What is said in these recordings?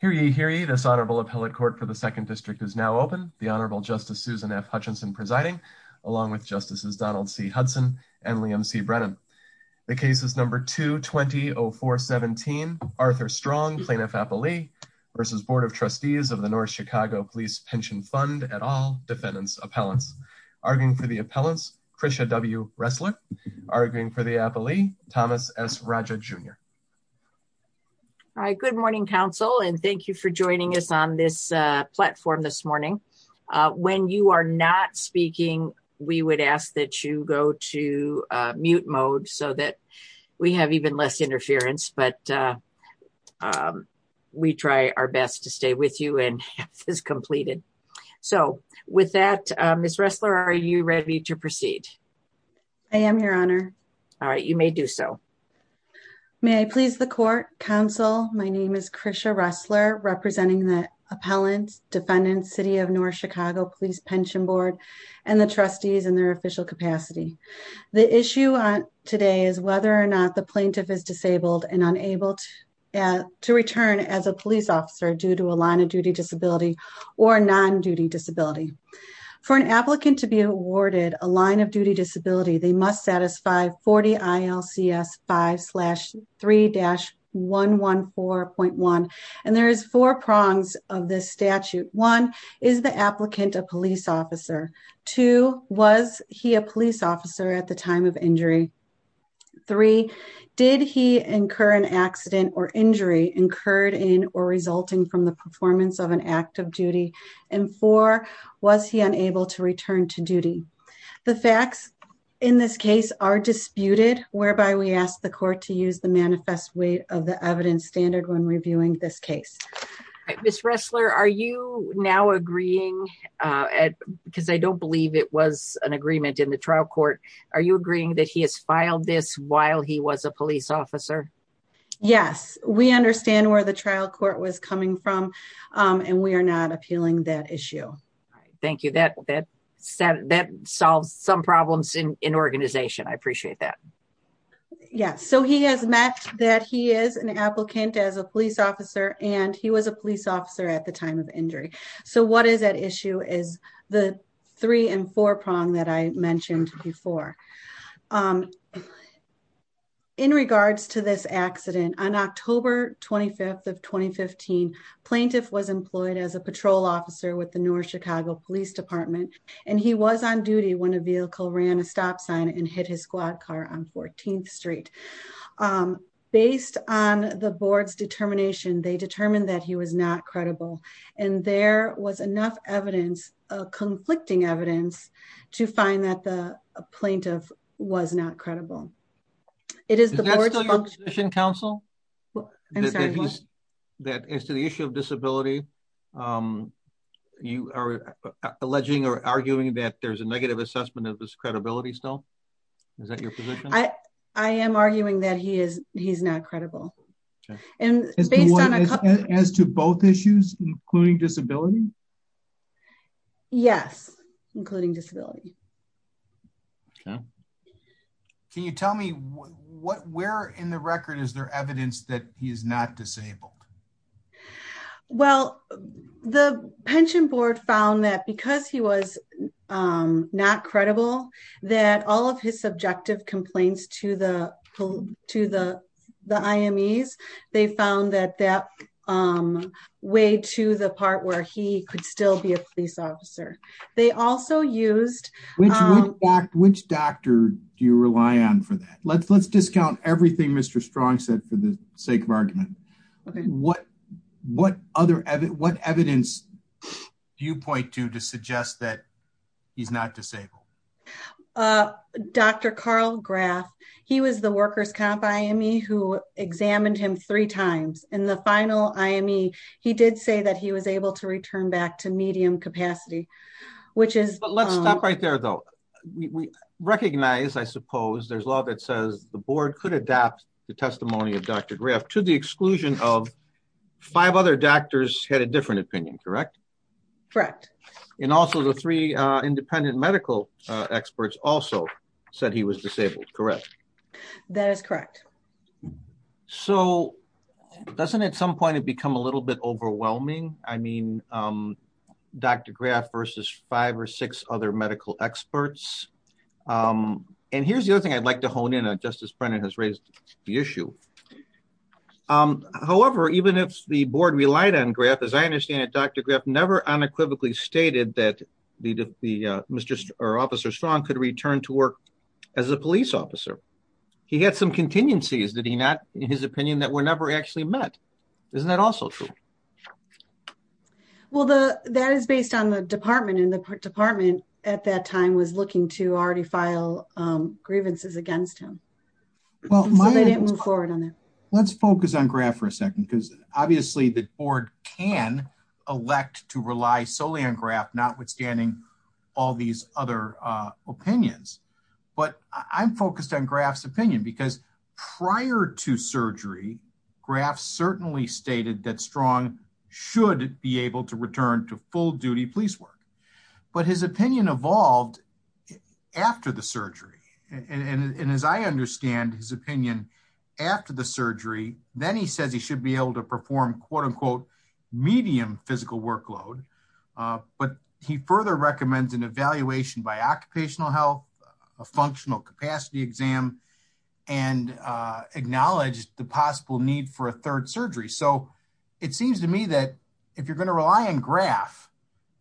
Hear ye, hear ye, this Honorable Appellate Court for the 2nd District is now open. The Honorable Justice Susan F. Hutchinson presiding, along with Justices Donald C. Hudson and Liam C. Brennan. The case is number 220417, Arthur Strong, Plaintiff-Appellee v. Board of Trustees of the North Chicago Police Pension Fund et al. Defendants' Appellants. Arguing for the Appellants, Krisha W. Ressler. Arguing for the Appellee, Thomas S. Raja Jr. All right, good morning, Council, and thank you for joining us on this platform this morning. When you are not speaking, we would ask that you go to mute mode so that we have even less interference, but we try our best to stay with you and have this completed. So, with that, Ms. Ressler, are you ready to proceed? I am, Your Honor. All right, you may do so. May I please the Court, Council? My name is Krisha Ressler, representing the Appellants, Defendants, City of North Chicago Police Pension Board, and the Trustees in their official capacity. The issue today is whether or not the Plaintiff is disabled and unable to return as a police officer due to a line of duty disability or a non-duty disability. For an applicant to be awarded a line of duty disability, they must satisfy 40 ILCS 5-3-114.1. And there is four prongs of this statute. One, is the applicant a police officer? Two, was he a police officer at the time of injury? Three, did he incur an accident or injury incurred in or resulting from the performance of an act of duty? And four, was he unable to return to duty? The facts in this case are disputed, whereby we ask the Court to use the manifest weight of the evidence standard when reviewing this case. Ms. Ressler, are you now agreeing, because I don't believe it was an agreement in the trial court, are you agreeing that he has filed this while he was a police officer? Yes, we understand where the trial court was coming from and we are not appealing that issue. Thank you, that solves some problems in organization, I appreciate that. Yes, so he has met that he is an applicant as a police officer and he was a police officer at the time of injury. So what is at issue is the three and four prong that I mentioned before. In regards to this accident, on October 25th of 2015, plaintiff was employed as a patrol officer with the North Chicago Police Department and he was on duty when a vehicle ran a stop sign and hit his squad car on 14th Street. Based on the board's determination, they determined that he was not credible. And there was enough evidence, conflicting evidence, to find that the plaintiff was not credible. Is that still your position, counsel? As to the issue of disability, you are alleging or arguing that there is a negative assessment of his credibility still? Is that your position? I am arguing that he is not credible. As to both issues, including disability? Yes, including disability. Can you tell me where in the record is there evidence that he is not disabled? Well, the pension board found that because he was not credible, that all of his subjective complaints to the IMEs, they found that that weighed to the part where he could still be a police officer. Which doctor do you rely on for that? Let's discount everything Mr. Strong said for the sake of argument. What evidence do you point to to suggest that he is not disabled? Dr. Carl Graf. He was the workers' comp IME who examined him three times. In the final IME, he did say that he was able to return back to medium capacity. Let's stop right there, though. We recognize, I suppose, there is law that says the board could adapt the testimony of Dr. Graf to the exclusion of five other doctors had a different opinion, correct? Correct. And also the three independent medical experts also said he was disabled, correct? That is correct. So doesn't at some point it become a little bit overwhelming? I mean, Dr. Graf versus five or six other medical experts. And here's the other thing I'd like to hone in on. Justice Brennan has raised the issue. However, even if the board relied on Graf, as I understand it, Dr. Graf never unequivocally stated that the officer Strong could return to work as a police officer. He had some contingencies, did he not, in his opinion, that were never actually met. Isn't that also true? Well, that is based on the department, and the department at that time was looking to already file grievances against him. So they didn't move forward on that. Let's focus on Graf for a second, because obviously the board can elect to rely solely on Graf, notwithstanding all these other opinions. But I'm focused on Graf's opinion, because prior to surgery, Graf certainly stated that Strong should be able to return to full-duty police work. But his opinion evolved after the surgery. And as I understand his opinion, after the surgery, then he says he should be able to perform, quote-unquote, medium physical workload. But he further recommends an evaluation by occupational health, a functional capacity exam, and acknowledged the possible need for a third surgery. So it seems to me that if you're going to rely on Graf,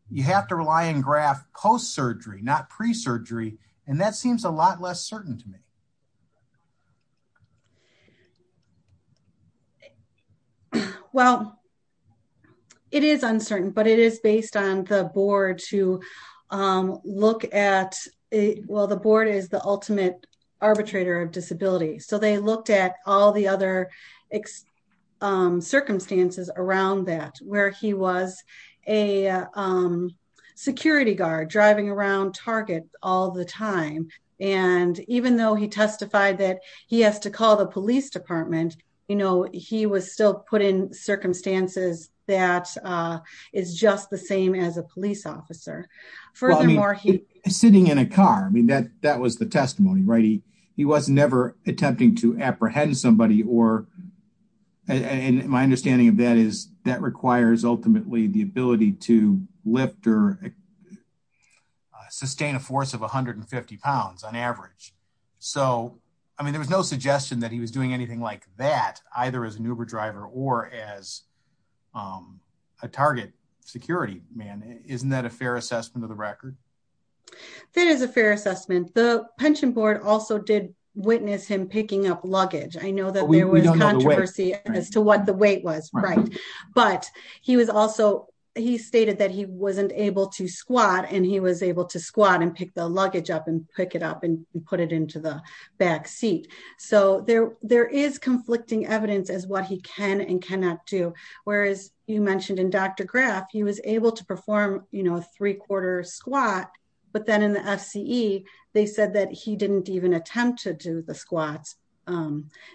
you have to rely on Graf post-surgery, not pre-surgery. And that seems a lot less certain to me. Well, it is uncertain, but it is based on the board to look at it. Well, the board is the ultimate arbitrator of disability. So they looked at all the other circumstances around that, where he was a security guard driving around Target all the time. And even though he testified that he has to call the police department, you know, he was still put in circumstances that is just the same as a police officer. Sitting in a car, I mean, that was the testimony, right? He was never attempting to apprehend somebody. And my understanding of that is that requires ultimately the ability to lift or sustain a force of 150 pounds on average. So, I mean, there was no suggestion that he was doing anything like that, either as an Uber driver or as a Target security man. Isn't that a fair assessment of the record? That is a fair assessment. The pension board also did witness him picking up luggage. I know that there was controversy as to what the weight was. Right. But he stated that he wasn't able to squat, and he was able to squat and pick the luggage up and pick it up and put it into the back seat. So there is conflicting evidence as what he can and cannot do. Whereas you mentioned in Dr. Graff, he was able to perform, you know, a three-quarter squat. But then in the FCE, they said that he didn't even attempt to do the squats.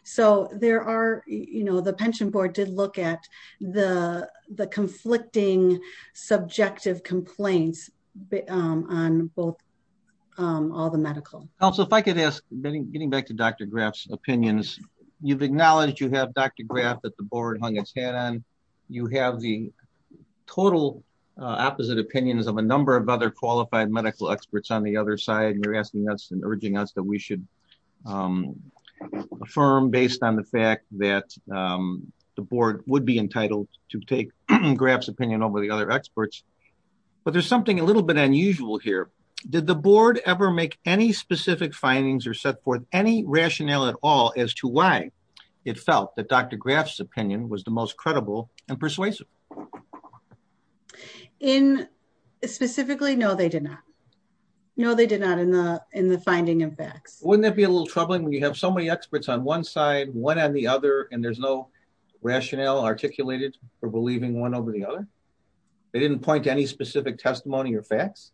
So there are, you know, the pension board did look at the conflicting subjective complaints on both all the medical. Also, if I could ask, getting back to Dr. Graff's opinions, you've acknowledged you have Dr. Graff that the board hung its head on. You have the total opposite opinions of a number of other qualified medical experts on the other side. And you're asking us and urging us that we should affirm based on the fact that the board would be entitled to take Graff's opinion over the other experts. But there's something a little bit unusual here. Did the board ever make any specific findings or set forth any rationale at all as to why it felt that Dr. Graff's opinion was the most credible and persuasive? Specifically, no, they did not. No, they did not in the finding of facts. Wouldn't that be a little troubling when you have so many experts on one side, one on the other, and there's no rationale articulated for believing one over the other? They didn't point to any specific testimony or facts?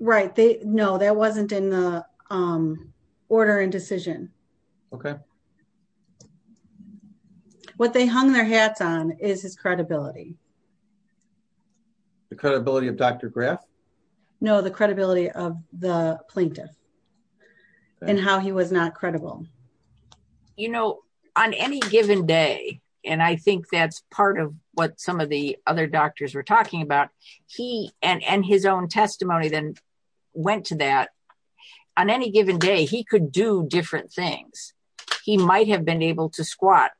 Right. No, that wasn't in the order and decision. Okay. What they hung their hats on is his credibility. The credibility of Dr. Graff? No, the credibility of the plaintiff and how he was not credible. You know, on any given day, and I think that's part of what some of the other doctors were talking about, he and his own testimony then went to that. On any given day, he could do different things. He might have been able to squat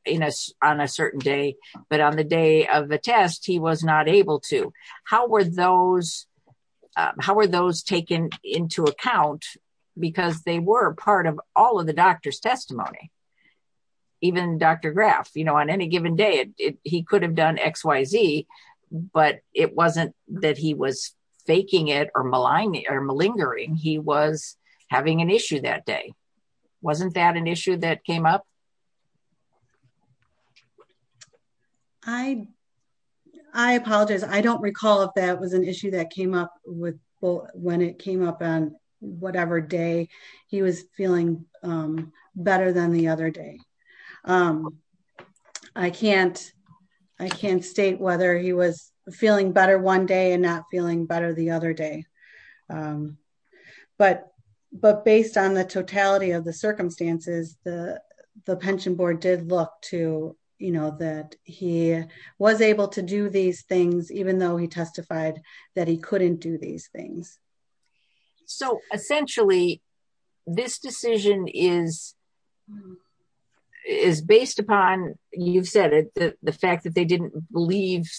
on a certain day, but on the day of the test, he was not able to. How were those taken into account? Because they were part of all of the doctor's testimony. Even Dr. Graff, you know, on any given day, he could have done XYZ, but it wasn't that he was faking it or malingering. He was having an issue that day. Wasn't that an issue that came up? I apologize. I don't recall if that was an issue that came up when it came up on whatever day he was feeling better than the other day. I can't state whether he was feeling better one day and not feeling better the other day. But based on the totality of the circumstances, the pension board did look to, you know, that he was able to do these things, even though he testified that he couldn't do these things. So, essentially, this decision is based upon, you've said it, the fact that they didn't believe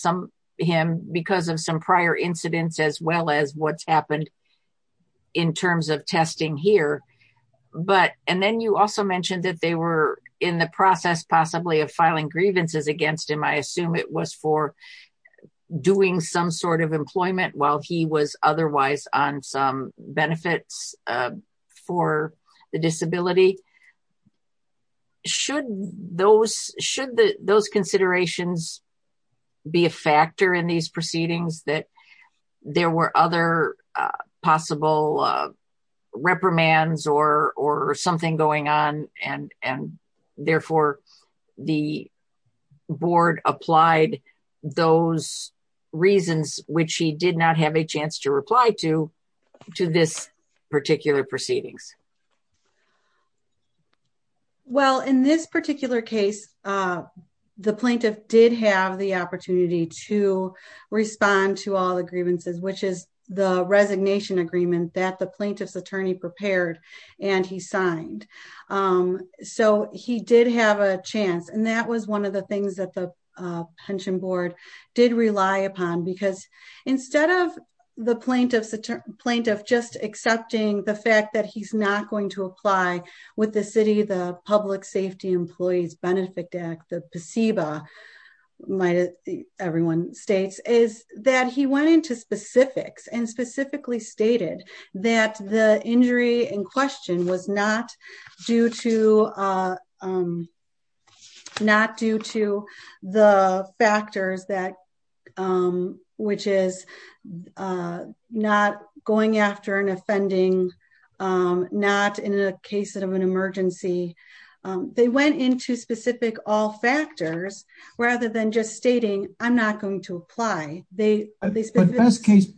him because of some prior incidents as well as what's happened in terms of testing here. And then you also mentioned that they were in the process, possibly, of filing grievances against him. I assume it was for doing some sort of employment while he was otherwise on some benefits for the disability. Should those considerations be a factor in these proceedings that there were other possible reprimands or something going on and, therefore, the board applied those reasons, which he did not have a chance to reply to, to this particular proceedings? Well, in this particular case, the plaintiff did have the opportunity to respond to all the grievances, which is the resignation agreement that the plaintiff's attorney prepared and he signed. So, he did have a chance and that was one of the things that the pension board did rely upon because instead of the plaintiff just accepting the fact that he's not going to apply with the city, the Public Safety Employees Benefit Act, the PSEBA, everyone states, is that he went into specifics and specifically stated that the injury in question was not due to the factors that, which is not going after an offending, not in a case of an emergency. They went into specific all factors, rather than just stating, I'm not going to apply. The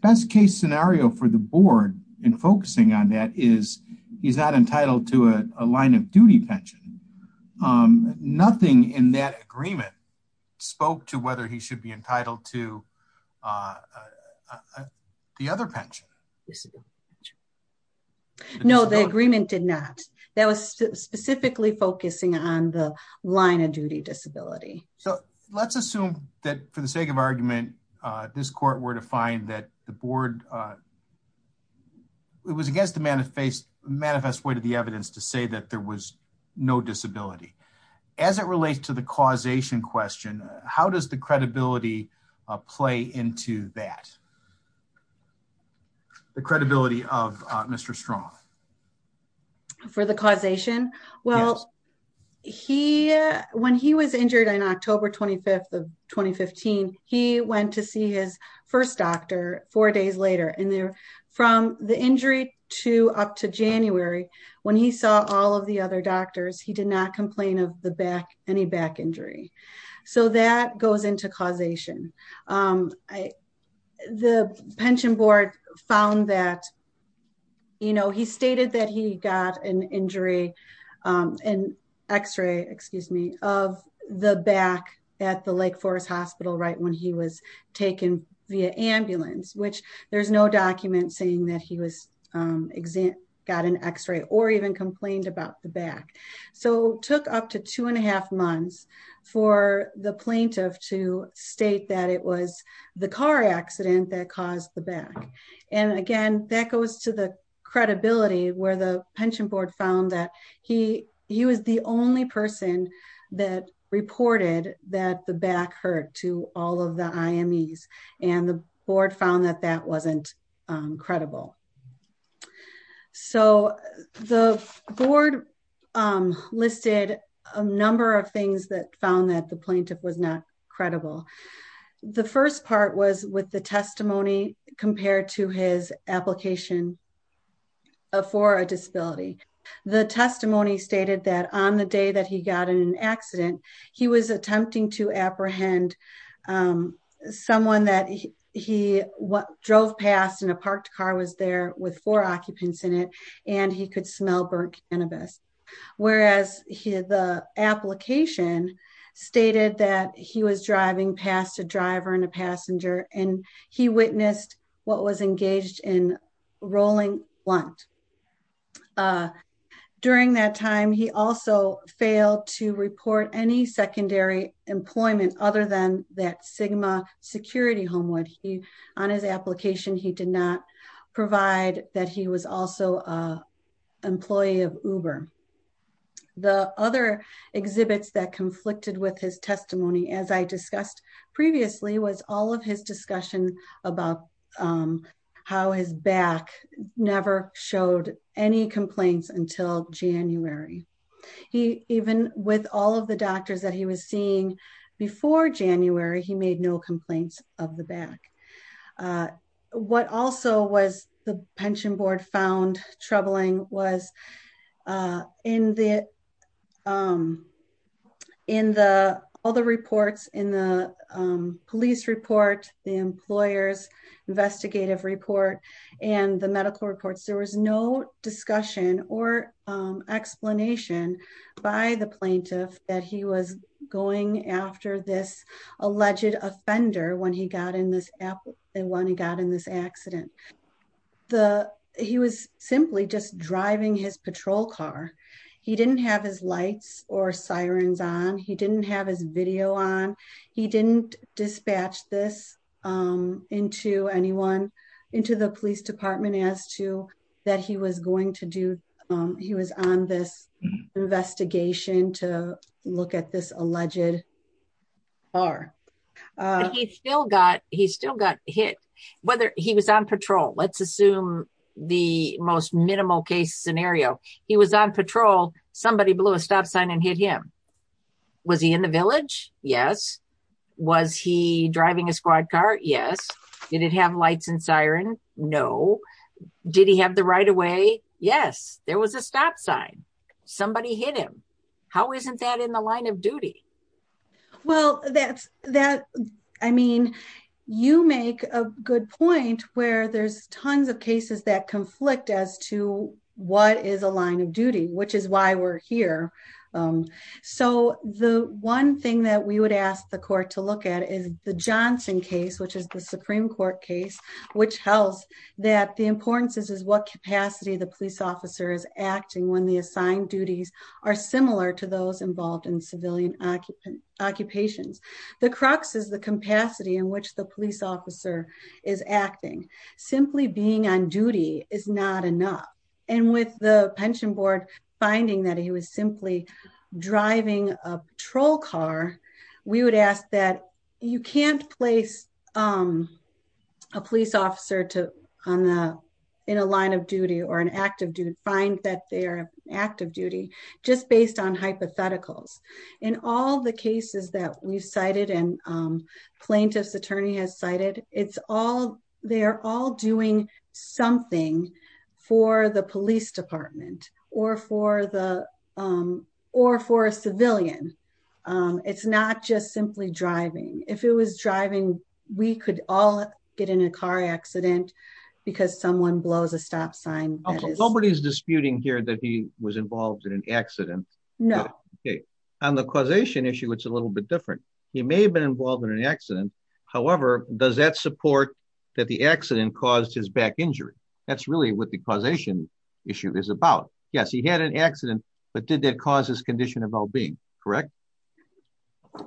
best case scenario for the board in focusing on that is he's not entitled to a line of duty pension. Nothing in that agreement spoke to whether he should be entitled to the other pension. No, the agreement did not. That was specifically focusing on the line of duty disability. So, let's assume that for the sake of argument, this court were to find that the board was against the manifest way to the evidence to say that there was no disability. As it relates to the causation question, how does the credibility play into that? The credibility of Mr. Strong. For the causation? Yes. Well, when he was injured on October 25th of 2015, he went to see his first doctor four days later. And from the injury up to January, when he saw all of the other doctors, he did not complain of any back injury. So, that goes into causation. The pension board found that, you know, he stated that he got an injury, an x-ray, excuse me, of the back at the Lake Forest Hospital right when he was taken via ambulance, which there's no document saying that he got an x-ray or even complained about the back. So, it took up to two and a half months for the plaintiff to state that it was the car accident that caused the back. And again, that goes to the credibility where the pension board found that he was the only person that reported that the back hurt to all of the IMEs. And the board found that that wasn't credible. So, the board listed a number of things that found that the plaintiff was not credible. The first part was with the testimony compared to his application for a disability. The testimony stated that on the day that he got in an accident, he was attempting to apprehend someone that he drove past in a parked car was there with four occupants in it, and he could smell burnt cannabis. Whereas the application stated that he was driving past a driver and a passenger, and he witnessed what was engaged in rolling blunt. During that time, he also failed to report any secondary employment other than that Sigma Security Home would be on his application, he did not provide that he was also an employee of Uber. The other exhibits that conflicted with his testimony as I discussed previously was all of his discussion about how his back never showed any complaints until January. He even with all of the doctors that he was seeing before January he made no complaints of the back. What also was the pension board found troubling was in the, in the other reports in the police report, the employers investigative report, and the medical reports there was no discussion or explanation by the plaintiff that he was going after this alleged offender when he got in this app, and when he got in this accident. The, he was simply just driving his patrol car. He didn't have his lights or sirens on he didn't have his video on. He didn't dispatch this into anyone into the police department as to that he was going to do. He was on this investigation to look at this alleged are still got, he still got hit, whether he was on patrol let's assume the most minimal case scenario, he was on patrol, somebody blew a stop sign and hit him. Was he in the village. Yes. Was he driving a squad car. Yes. Did it have lights and siren. No. Did he have the right away. Yes, there was a stop sign. Somebody hit him. How isn't that in the line of duty. Well, that's that. I mean, you make a good point where there's tons of cases that conflict as to what is a line of duty, which is why we're here. So, the one thing that we would ask the court to look at is the Johnson case which is the Supreme Court case, which tells that the importance is is what capacity the police officer is acting when the assigned duties are similar to those involved in civilian occupant driving a patrol car, we would ask that you can't place a police officer to on the, in a line of duty or an active dude find that they're active duty, just based on hypotheticals, and all the cases that we cited and plaintiffs attorney has cited, it's all. They are all doing something for the police department, or for the, or for a civilian. It's not just simply driving, if it was driving, we could all get in a car accident, because someone blows a stop sign. Nobody's disputing here that he was involved in an accident. No. Okay. On the causation issue it's a little bit different. He may have been involved in an accident. However, does that support that the accident caused his back injury. That's really what the causation issue is about. Yes, he had an accident, but did that cause his condition of well being. Correct.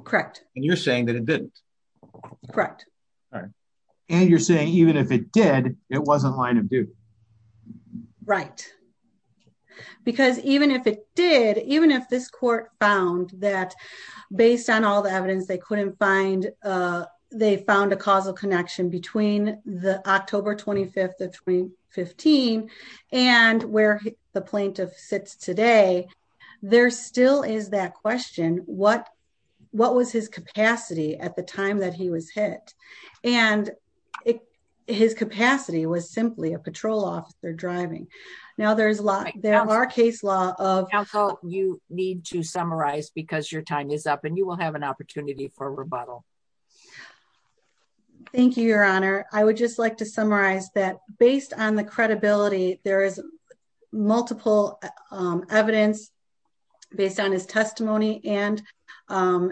Correct. And you're saying that it didn't. Correct. And you're saying even if it did, it wasn't line of duty. Right. Because even if it did, even if this court found that, based on all the evidence they couldn't find. And they found a causal connection between the October 25 2015, and where the plaintiff sits today. There still is that question, what, what was his capacity at the time that he was hit, and his capacity was simply a patrol officer driving. Now there's a lot there are case law of how you need to summarize because your time is up and you will have an opportunity for rebuttal. Thank you, Your Honor, I would just like to summarize that, based on the credibility, there is multiple evidence, based on his testimony and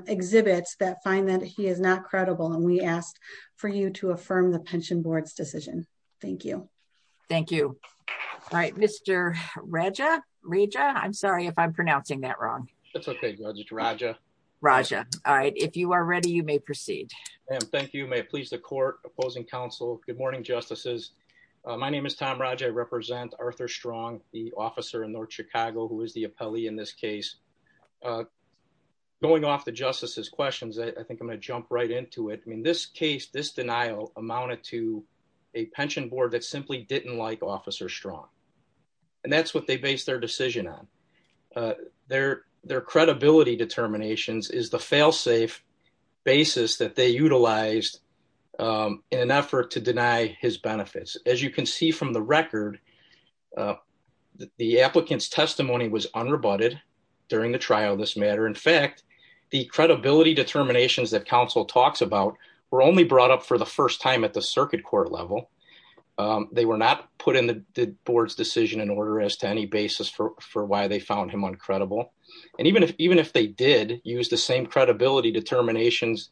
exhibits that find that he is not credible and we asked for you to affirm the pension board's decision. Thank you. Thank you. Right, Mr. Raja, Raja, I'm sorry if I'm pronouncing that wrong. Raja. Raja. All right, if you are ready, you may proceed. Thank you may please the court opposing counsel. Good morning justices. My name is Tom Raj I represent Arthur strong, the officer in North Chicago who is the appellee in this case, going off the justices questions I think I'm gonna jump right into it I mean this case this denial amounted to a pension board that simply didn't like officer strong. And that's what they base their decision on their, their credibility determinations is the failsafe basis that they utilized in an effort to deny his benefits, as you can see from the record. The applicants testimony was unrebutted during the trial this matter in fact the credibility determinations that counsel talks about were only brought up for the first time at the circuit court level. They were not put in the board's decision in order as to any basis for why they found him on credible, and even if even if they did use the same credibility determinations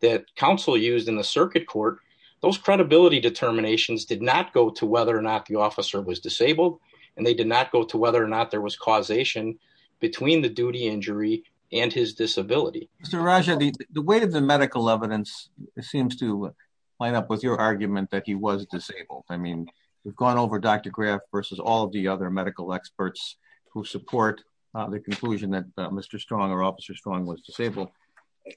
that counsel used in the circuit court, those credibility determinations did not go to whether or not the officer was disabled, and they did not go to whether or not there was causation between the duty injury, and his disability. The way the medical evidence seems to line up with your argument that he was disabled. I mean, we've gone over Dr graph versus all the other medical experts who support the conclusion that Mr strong or officer strong was disabled.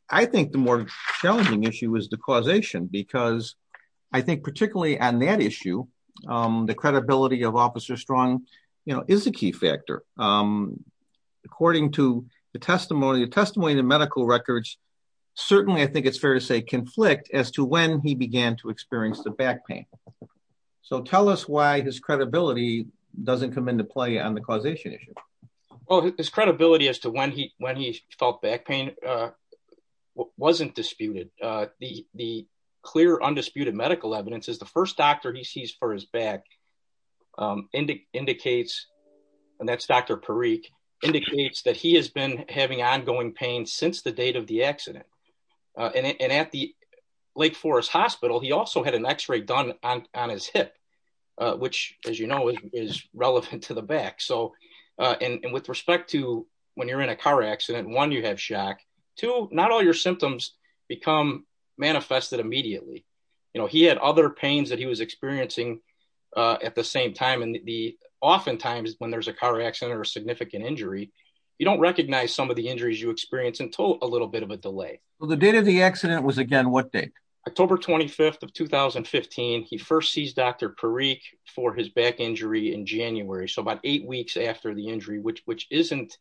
I think the more challenging issue is the causation because I think particularly on that issue, the credibility of officer strong, you know, is a key factor. According to the testimony the testimony the medical records. Certainly I think it's fair to say conflict as to when he began to experience the back pain. So tell us why his credibility doesn't come into play on the causation issue. Well, his credibility as to when he when he felt back pain wasn't disputed the clear undisputed medical evidence is the first doctor he sees for his back. indicates, and that's Dr Perique indicates that he has been having ongoing pain since the date of the accident. And at the Lake Forest Hospital he also had an x ray done on his hip, which, as you know, is relevant to the back so and with respect to when you're in a car accident one you have shock to not all your symptoms become manifested immediately. You know he had other pains that he was experiencing. At the same time, and the oftentimes when there's a car accident or significant injury. You don't recognize some of the injuries you experience until a little bit of a delay. The date of the accident was again what day October 25 of 2015 he first sees Dr Perique for his back injury in January so about eight weeks after the injury which which isn't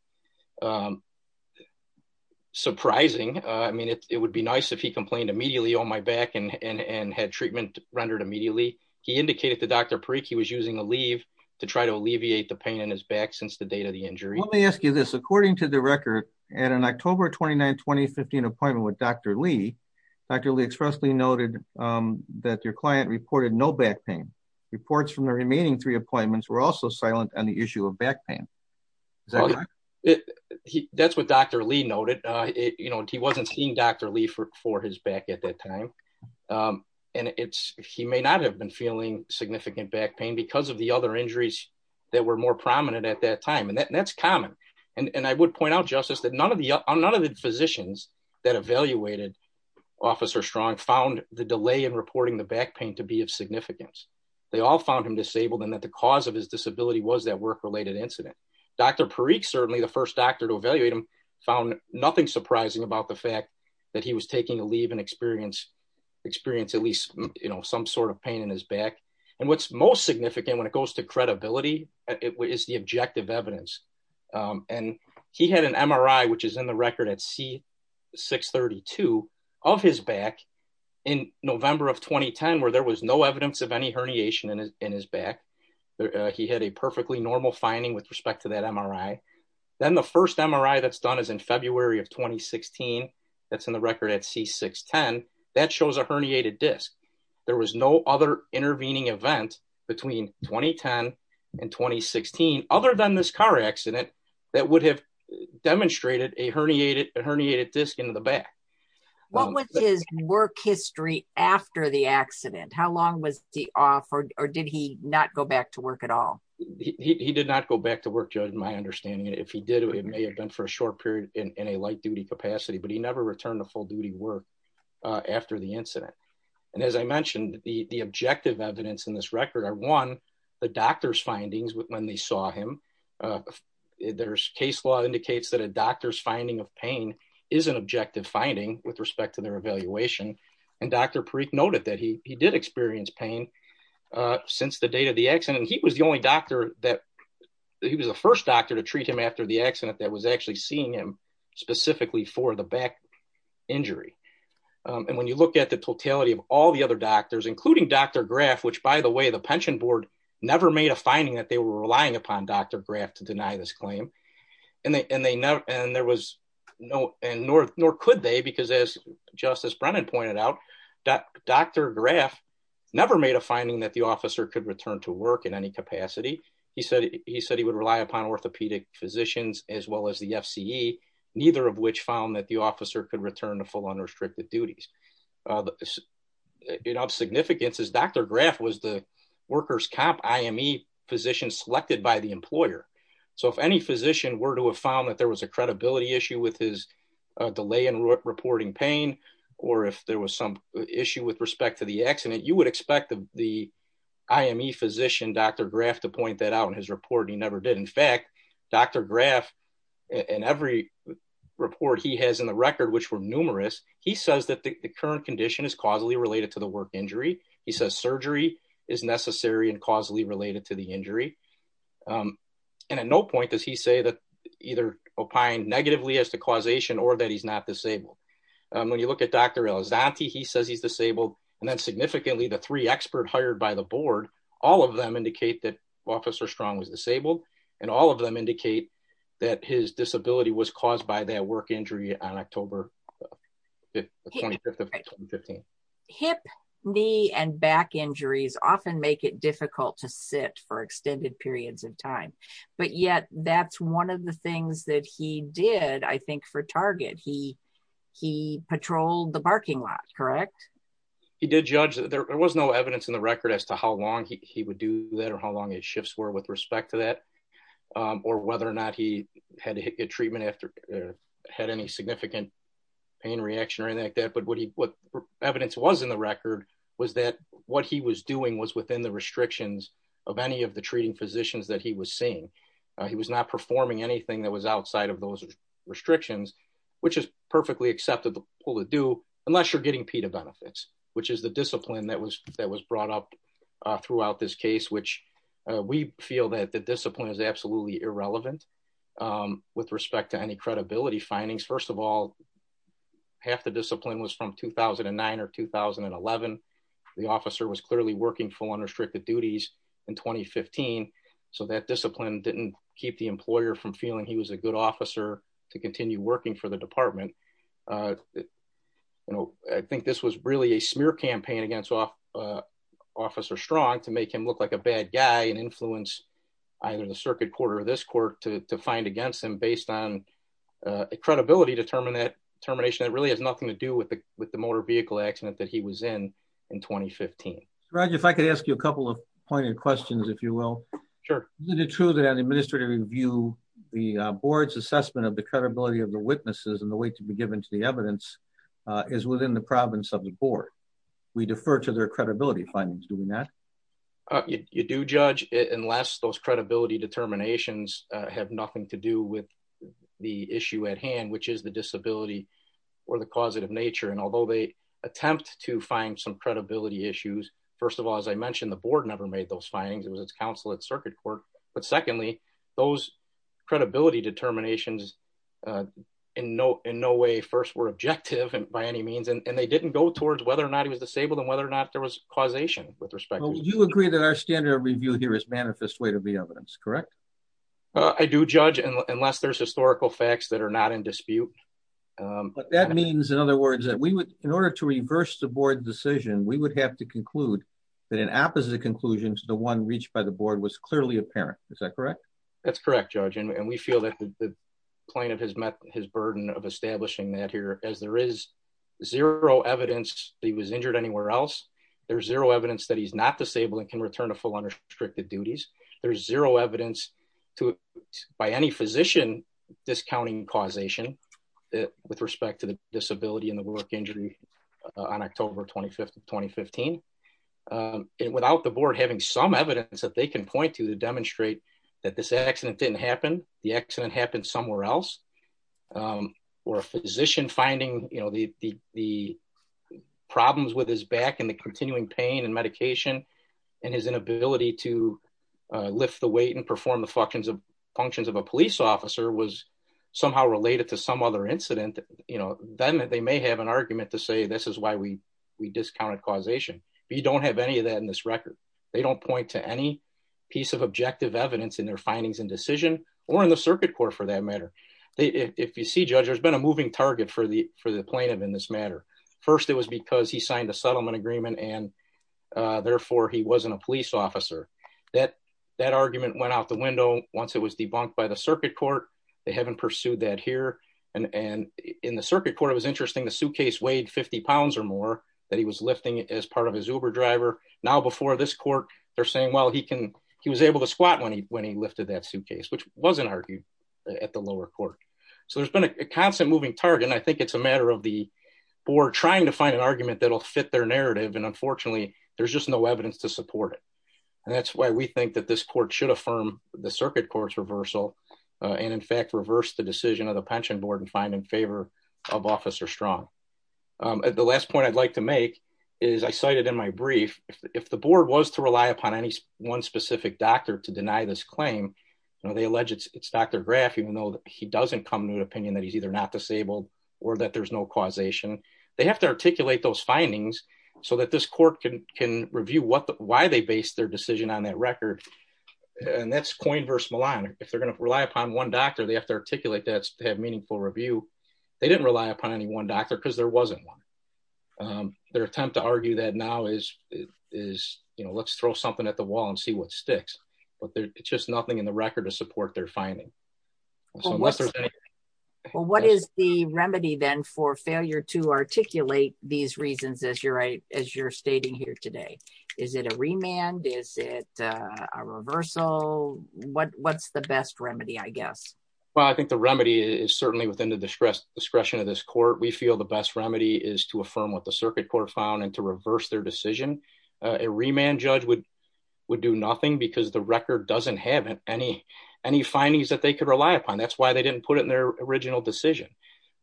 surprising. I mean it would be nice if he complained immediately on my back and and had treatment rendered immediately. He indicated to Dr Perique he was using a leave to try to alleviate the pain in his back since the date of the injury. Let me ask you this according to the record, and an October 29 2015 appointment with Dr. Lee, Dr Lee expressly noted that your client reported no back pain reports from the remaining three appointments were also silent on the issue of back pain. That's what Dr. Lee noted it you know he wasn't seeing Dr. Lee for his back at that time. And it's, he may not have been feeling significant back pain because of the other injuries that were more prominent at that time and that's common. And I would point out justice that none of the none of the physicians that evaluated officer strong found the delay and reporting the back pain to be of significance. They all found him disabled and that the cause of his disability was that work related incident, Dr Perique certainly the first doctor to evaluate him found nothing surprising about the fact that he was taking a leave and experience experience at least, you in November of 2010 where there was no evidence of any herniation in his, in his back. He had a perfectly normal finding with respect to that MRI. Then the first MRI that's done is in February of 2016. That's in the record at C 610 that shows a herniated disc. There was no other intervening event between 2010 and 2016, other than this car accident that would have demonstrated a herniated herniated disc into the back. What was his work history after the accident, how long was he offered, or did he not go back to work at all. He did not go back to work, my understanding if he did it may have been for a short period in a light duty capacity but he never returned to full duty work. After the incident. And as I mentioned, the objective evidence in this record are one, the doctor's findings with when they saw him. There's case law indicates that a doctor's finding of pain is an objective finding with respect to their evaluation, and Dr. Perique noted that he did experience pain. Since the date of the accident he was the only doctor that he was the first doctor to treat him after the accident that was actually seeing him specifically for the back injury. And when you look at the totality of all the other doctors including Dr. Graff which by the way the pension board never made a finding that they were relying upon Dr. Graff to deny this claim. And they and they know, and there was no, and nor, nor could they because as Justice Brennan pointed out that Dr. Graff never made a finding that the officer could return to work in any capacity. He said he said he would rely upon orthopedic physicians, as well as the FCA, neither of which found that the officer could return to full unrestricted duties. In of significance is Dr. Graff was the workers comp IME physician selected by the employer. So if any physician were to have found that there was a credibility issue with his delay in reporting pain, or if there was some issue with respect to the accident you would expect the IME physician Dr. Graff to point that out in his report he never did. In fact, Dr. Graff, and every report he has in the record which were numerous. He says that the current condition is causally related to the work injury. He says surgery is necessary and causally related to the injury. And at no point does he say that either opine negatively as the causation or that he's not disabled. When you look at Dr. He says he's disabled, and that's significantly the three expert hired by the board, all of them indicate that officer strong was disabled, and all of them indicate that his disability was caused by their work injury on October. 2015 hip knee and back injuries often make it difficult to sit for extended periods of time. But yet, that's one of the things that he did I think for target he he patrolled the parking lot, correct. He did judge that there was no evidence in the record as to how long he would do that or how long it shifts were with respect to that, or whether or not he had a treatment after had any significant. Pain reaction or anything like that but what he what evidence was in the record was that what he was doing was within the restrictions of any of the treating physicians that he was seeing. He was not performing anything that was outside of those restrictions, which is perfectly acceptable to do, unless you're getting PETA benefits, which is the discipline that was that was brought up throughout this case which we feel that the discipline is half the discipline was from 2009 or 2011. The officer was clearly working full unrestricted duties in 2015, so that discipline didn't keep the employer from feeling he was a good officer to continue working for the department. You know, I think this was really a smear campaign against officer strong to make him look like a bad guy and influence either the circuit court or this court to find against him based on credibility to terminate termination that really has nothing to do with the, with the motor vehicle accident that he was in, in 2015. Roger if I could ask you a couple of pointed questions, if you will. Sure. The truth and administrative review the board's assessment of the credibility of the witnesses and the way to be given to the evidence is within the province of the board. We defer to their credibility findings doing that. You do judge it unless those credibility determinations have nothing to do with the issue at hand, which is the disability or the causative nature and although they attempt to find some credibility issues. First of all, as I mentioned the board never made those findings it was it's counsel at circuit court, but secondly, those credibility determinations in no in no way first were objective and by any means and they didn't go towards whether or not he was disabled and whether or not there was causation with respect to you agree that our standard review here is manifest way to be evidence correct. I do judge unless there's historical facts that are not in dispute. That means in other words that we would, in order to reverse the board decision we would have to conclude that an opposite conclusion to the one reached by the board was clearly apparent. Is that correct. That's correct, George and we feel that the plaintiff has met his burden of establishing that here as there is zero evidence, he was injured anywhere else. There's zero evidence that he's not disabled and can return to full unrestricted duties. There's zero evidence to by any physician discounting causation that with respect to the disability and the work injury on October 25 2015. Without the board having some evidence that they can point to to demonstrate that this accident didn't happen, the accident happened somewhere else, or a physician finding, you know, the, the problems with his back and the continuing pain and medication, and his inability to lift the weight and perform the functions of functions of a police officer was somehow related to some other incident, you know, then they may have an argument to say this is why we, we discounted causation. We don't have any of that in this record. They don't point to any piece of objective evidence in their findings and decision, or in the circuit court for that matter. If you see judge there's been a moving target for the, for the plaintiff in this matter. First it was because he signed a settlement agreement and therefore he wasn't a police officer that that argument went out the window, once it was debunked by the circuit court. They haven't pursued that here, and in the circuit court it was interesting the suitcase weighed 50 pounds or more that he was lifting as part of his Uber driver. Now before this court, they're saying well he can, he was able to squat when he when he lifted that suitcase which wasn't argued at the lower court. So there's been a constant moving target and I think it's a matter of the board trying to find an argument that will fit their narrative and unfortunately there's just no evidence to support it. And that's why we think that this court should affirm the circuit courts reversal, and in fact reverse the decision of the pension board and find in favor of officer strong. The last point I'd like to make is I cited in my brief, if the board was to rely upon any one specific doctor to deny this claim. They alleged it's Dr graph even though he doesn't come to an opinion that he's either not disabled, or that there's no causation, they have to articulate those findings, so that this court can can review what the why they based their decision on that record. And that's coin verse Milan, if they're going to rely upon one doctor they have to articulate that to have meaningful review. They didn't rely upon any one doctor because there wasn't one. Their attempt to argue that now is, is, you know, let's throw something at the wall and see what sticks, but there's just nothing in the record to support their finding. What is the remedy then for failure to articulate these reasons as you're as you're stating here today. Is it a remand is it a reversal, what what's the best remedy I guess. Well, I think the remedy is certainly within the discretion of this court we feel the best remedy is to affirm what the circuit court found and to reverse their decision, a remand judge would would do nothing because the record doesn't have any, any findings that they could rely upon that's why they didn't put it in their original decision.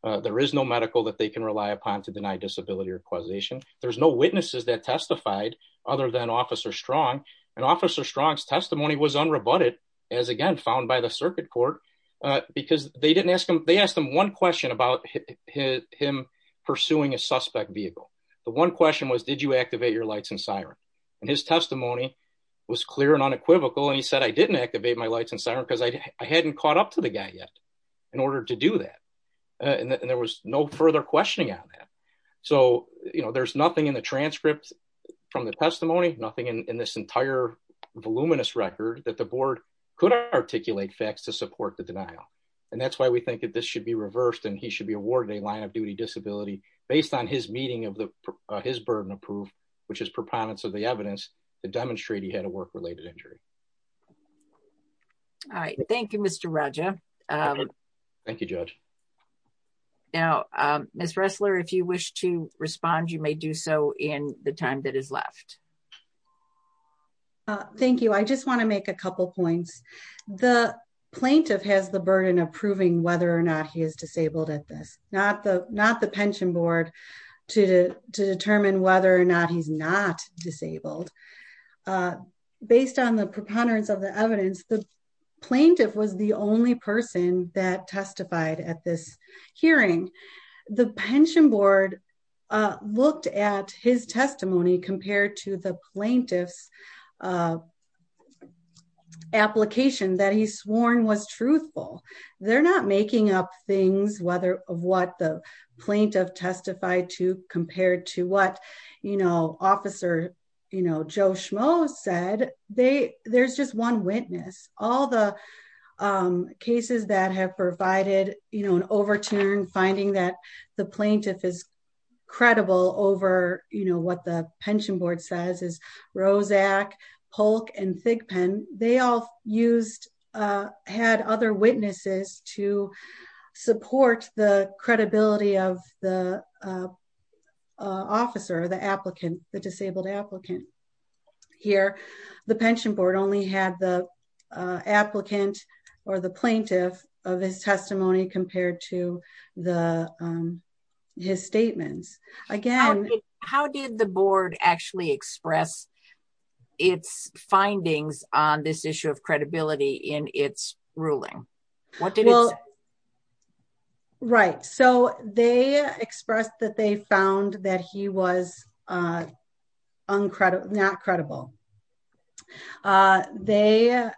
There is no medical that they can rely upon to deny disability or causation, there's no witnesses that testified, other than officer strong and officer Strong's testimony was unrebutted, as again found by the circuit court, because they didn't ask them, they asked them one question about him pursuing a suspect vehicle. The one question was did you activate your lights and siren. And his testimony was clear and unequivocal and he said I didn't activate my lights and siren because I hadn't caught up to the guy yet. In order to do that. And there was no further questioning on that. So, you know, there's nothing in the transcripts from the testimony, nothing in this entire voluminous record that the board could articulate facts to support the denial. And that's why we think that this should be reversed and he should be awarded a line of duty disability, based on his meeting of the his burden of proof, which is proponents of the evidence to demonstrate he had a work related injury. All right. Thank you, Mr. Roger. Thank you, George. Now, Miss wrestler if you wish to respond you may do so in the time that is left. Thank you. I just want to make a couple points. The plaintiff has the burden of proving whether or not he is disabled at this, not the not the pension board to determine whether or not he's not disabled. Based on the preponderance of the evidence the plaintiff was the only person that testified at this hearing the pension board looked at his testimony compared to the plaintiffs application that he's sworn was truthful. They're not making up things whether of what the plaintiff testified to compared to what, you know, officer, you know, Joe schmo said they, there's just one witness, all the cases that have provided, you know, an overturn finding that the plaintiff is credible over, you witnesses to support the credibility of the officer the applicant, the disabled applicant here, the pension board only had the applicant, or the plaintiff of his testimony compared to the his statements. Again, how did the board actually express its findings on this issue of credibility in its ruling. What did it. Right, so they expressed that they found that he was uncredible not credible. They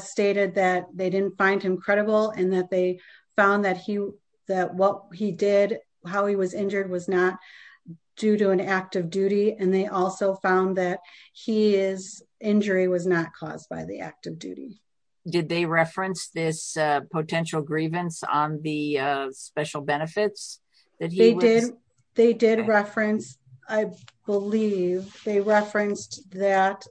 stated that they didn't find him credible and that they found that he that what he did, how he was injured was not due to an act of duty and they also found that he is injury was not caused by the act of duty. Did they reference this potential grievance on the special benefits that he did. They did reference, I believe they referenced that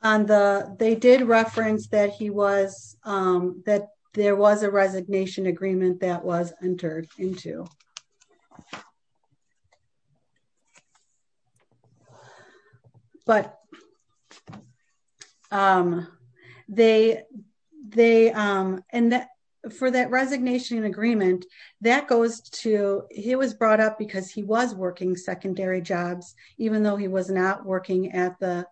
on the, they did reference that he was that there was a resignation agreement that was entered into. But they, they, and that for that resignation agreement that goes to, he was brought up because he was working secondary jobs, even though he was not working at the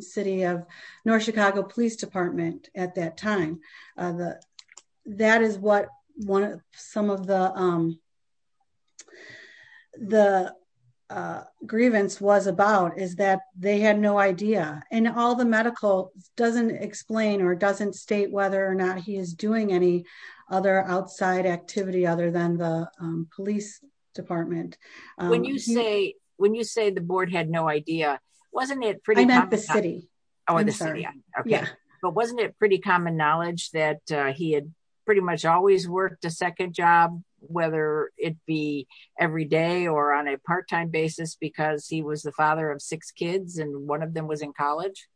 city of North Chicago Police Department, at that time, the, that is what one of some of the, the grievance was about is that they had no idea, and all the medical doesn't explain or doesn't state whether or not he is doing any other outside activity other than the police department. When you say, when you say the board had no idea, wasn't it pretty much the city or the city. Okay. But wasn't it pretty common knowledge that he had pretty much always worked a second job, whether it be every day or on a part time basis because he was the father of six kids and one of them was in college.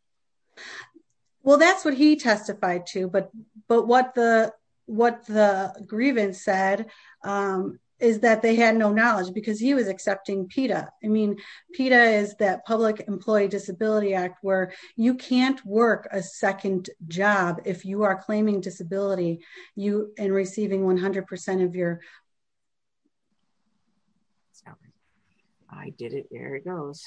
Well, that's what he testified to but but what the, what the grievance said is that they had no knowledge because he was accepting PETA, I mean, PETA is that Public Employee Disability Act where you can't work a second job if you are claiming disability, you and receiving 100% of your I did it, there it goes.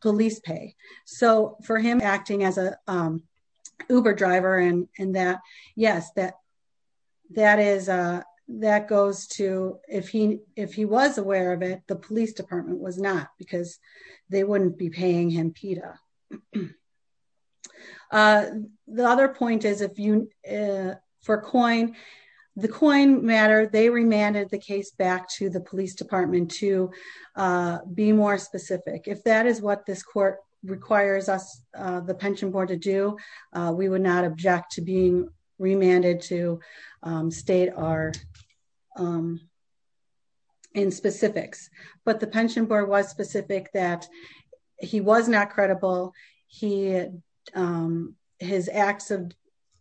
Police pay. So for him acting as a Uber driver and, and that, yes, that, that is a, that goes to, if he, if he was aware of it, the police department was not because they wouldn't be paying him PETA. The other point is if you for COIN, the COIN matter they remanded the case back to the police department to be more specific if that is what this court requires us, the pension board to do, we would not object to being remanded to state our in specifics, but the pension board was specific that he was not credible. He had his acts of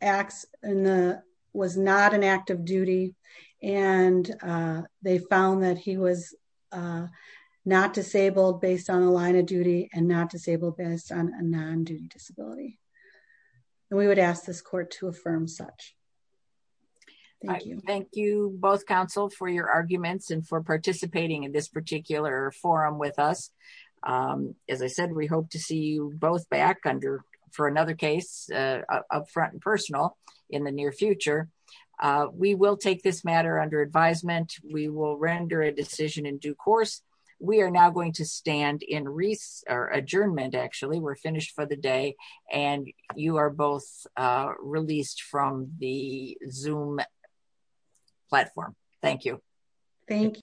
acts in the was not an act of duty, and they found that he was not disabled based on a line of duty and not disabled based on a non duty disability. We would ask this court to affirm such. Thank you both counsel for your arguments and for participating in this particular forum with us. As I said, we hope to see you both back under for another case up front and personal in the near future. We will take this matter under advisement, we will render a decision in due course, we are now going to stand in Reese or adjournment actually we're finished for the day, and you are both released from the zoom platform. Thank you. Thank you.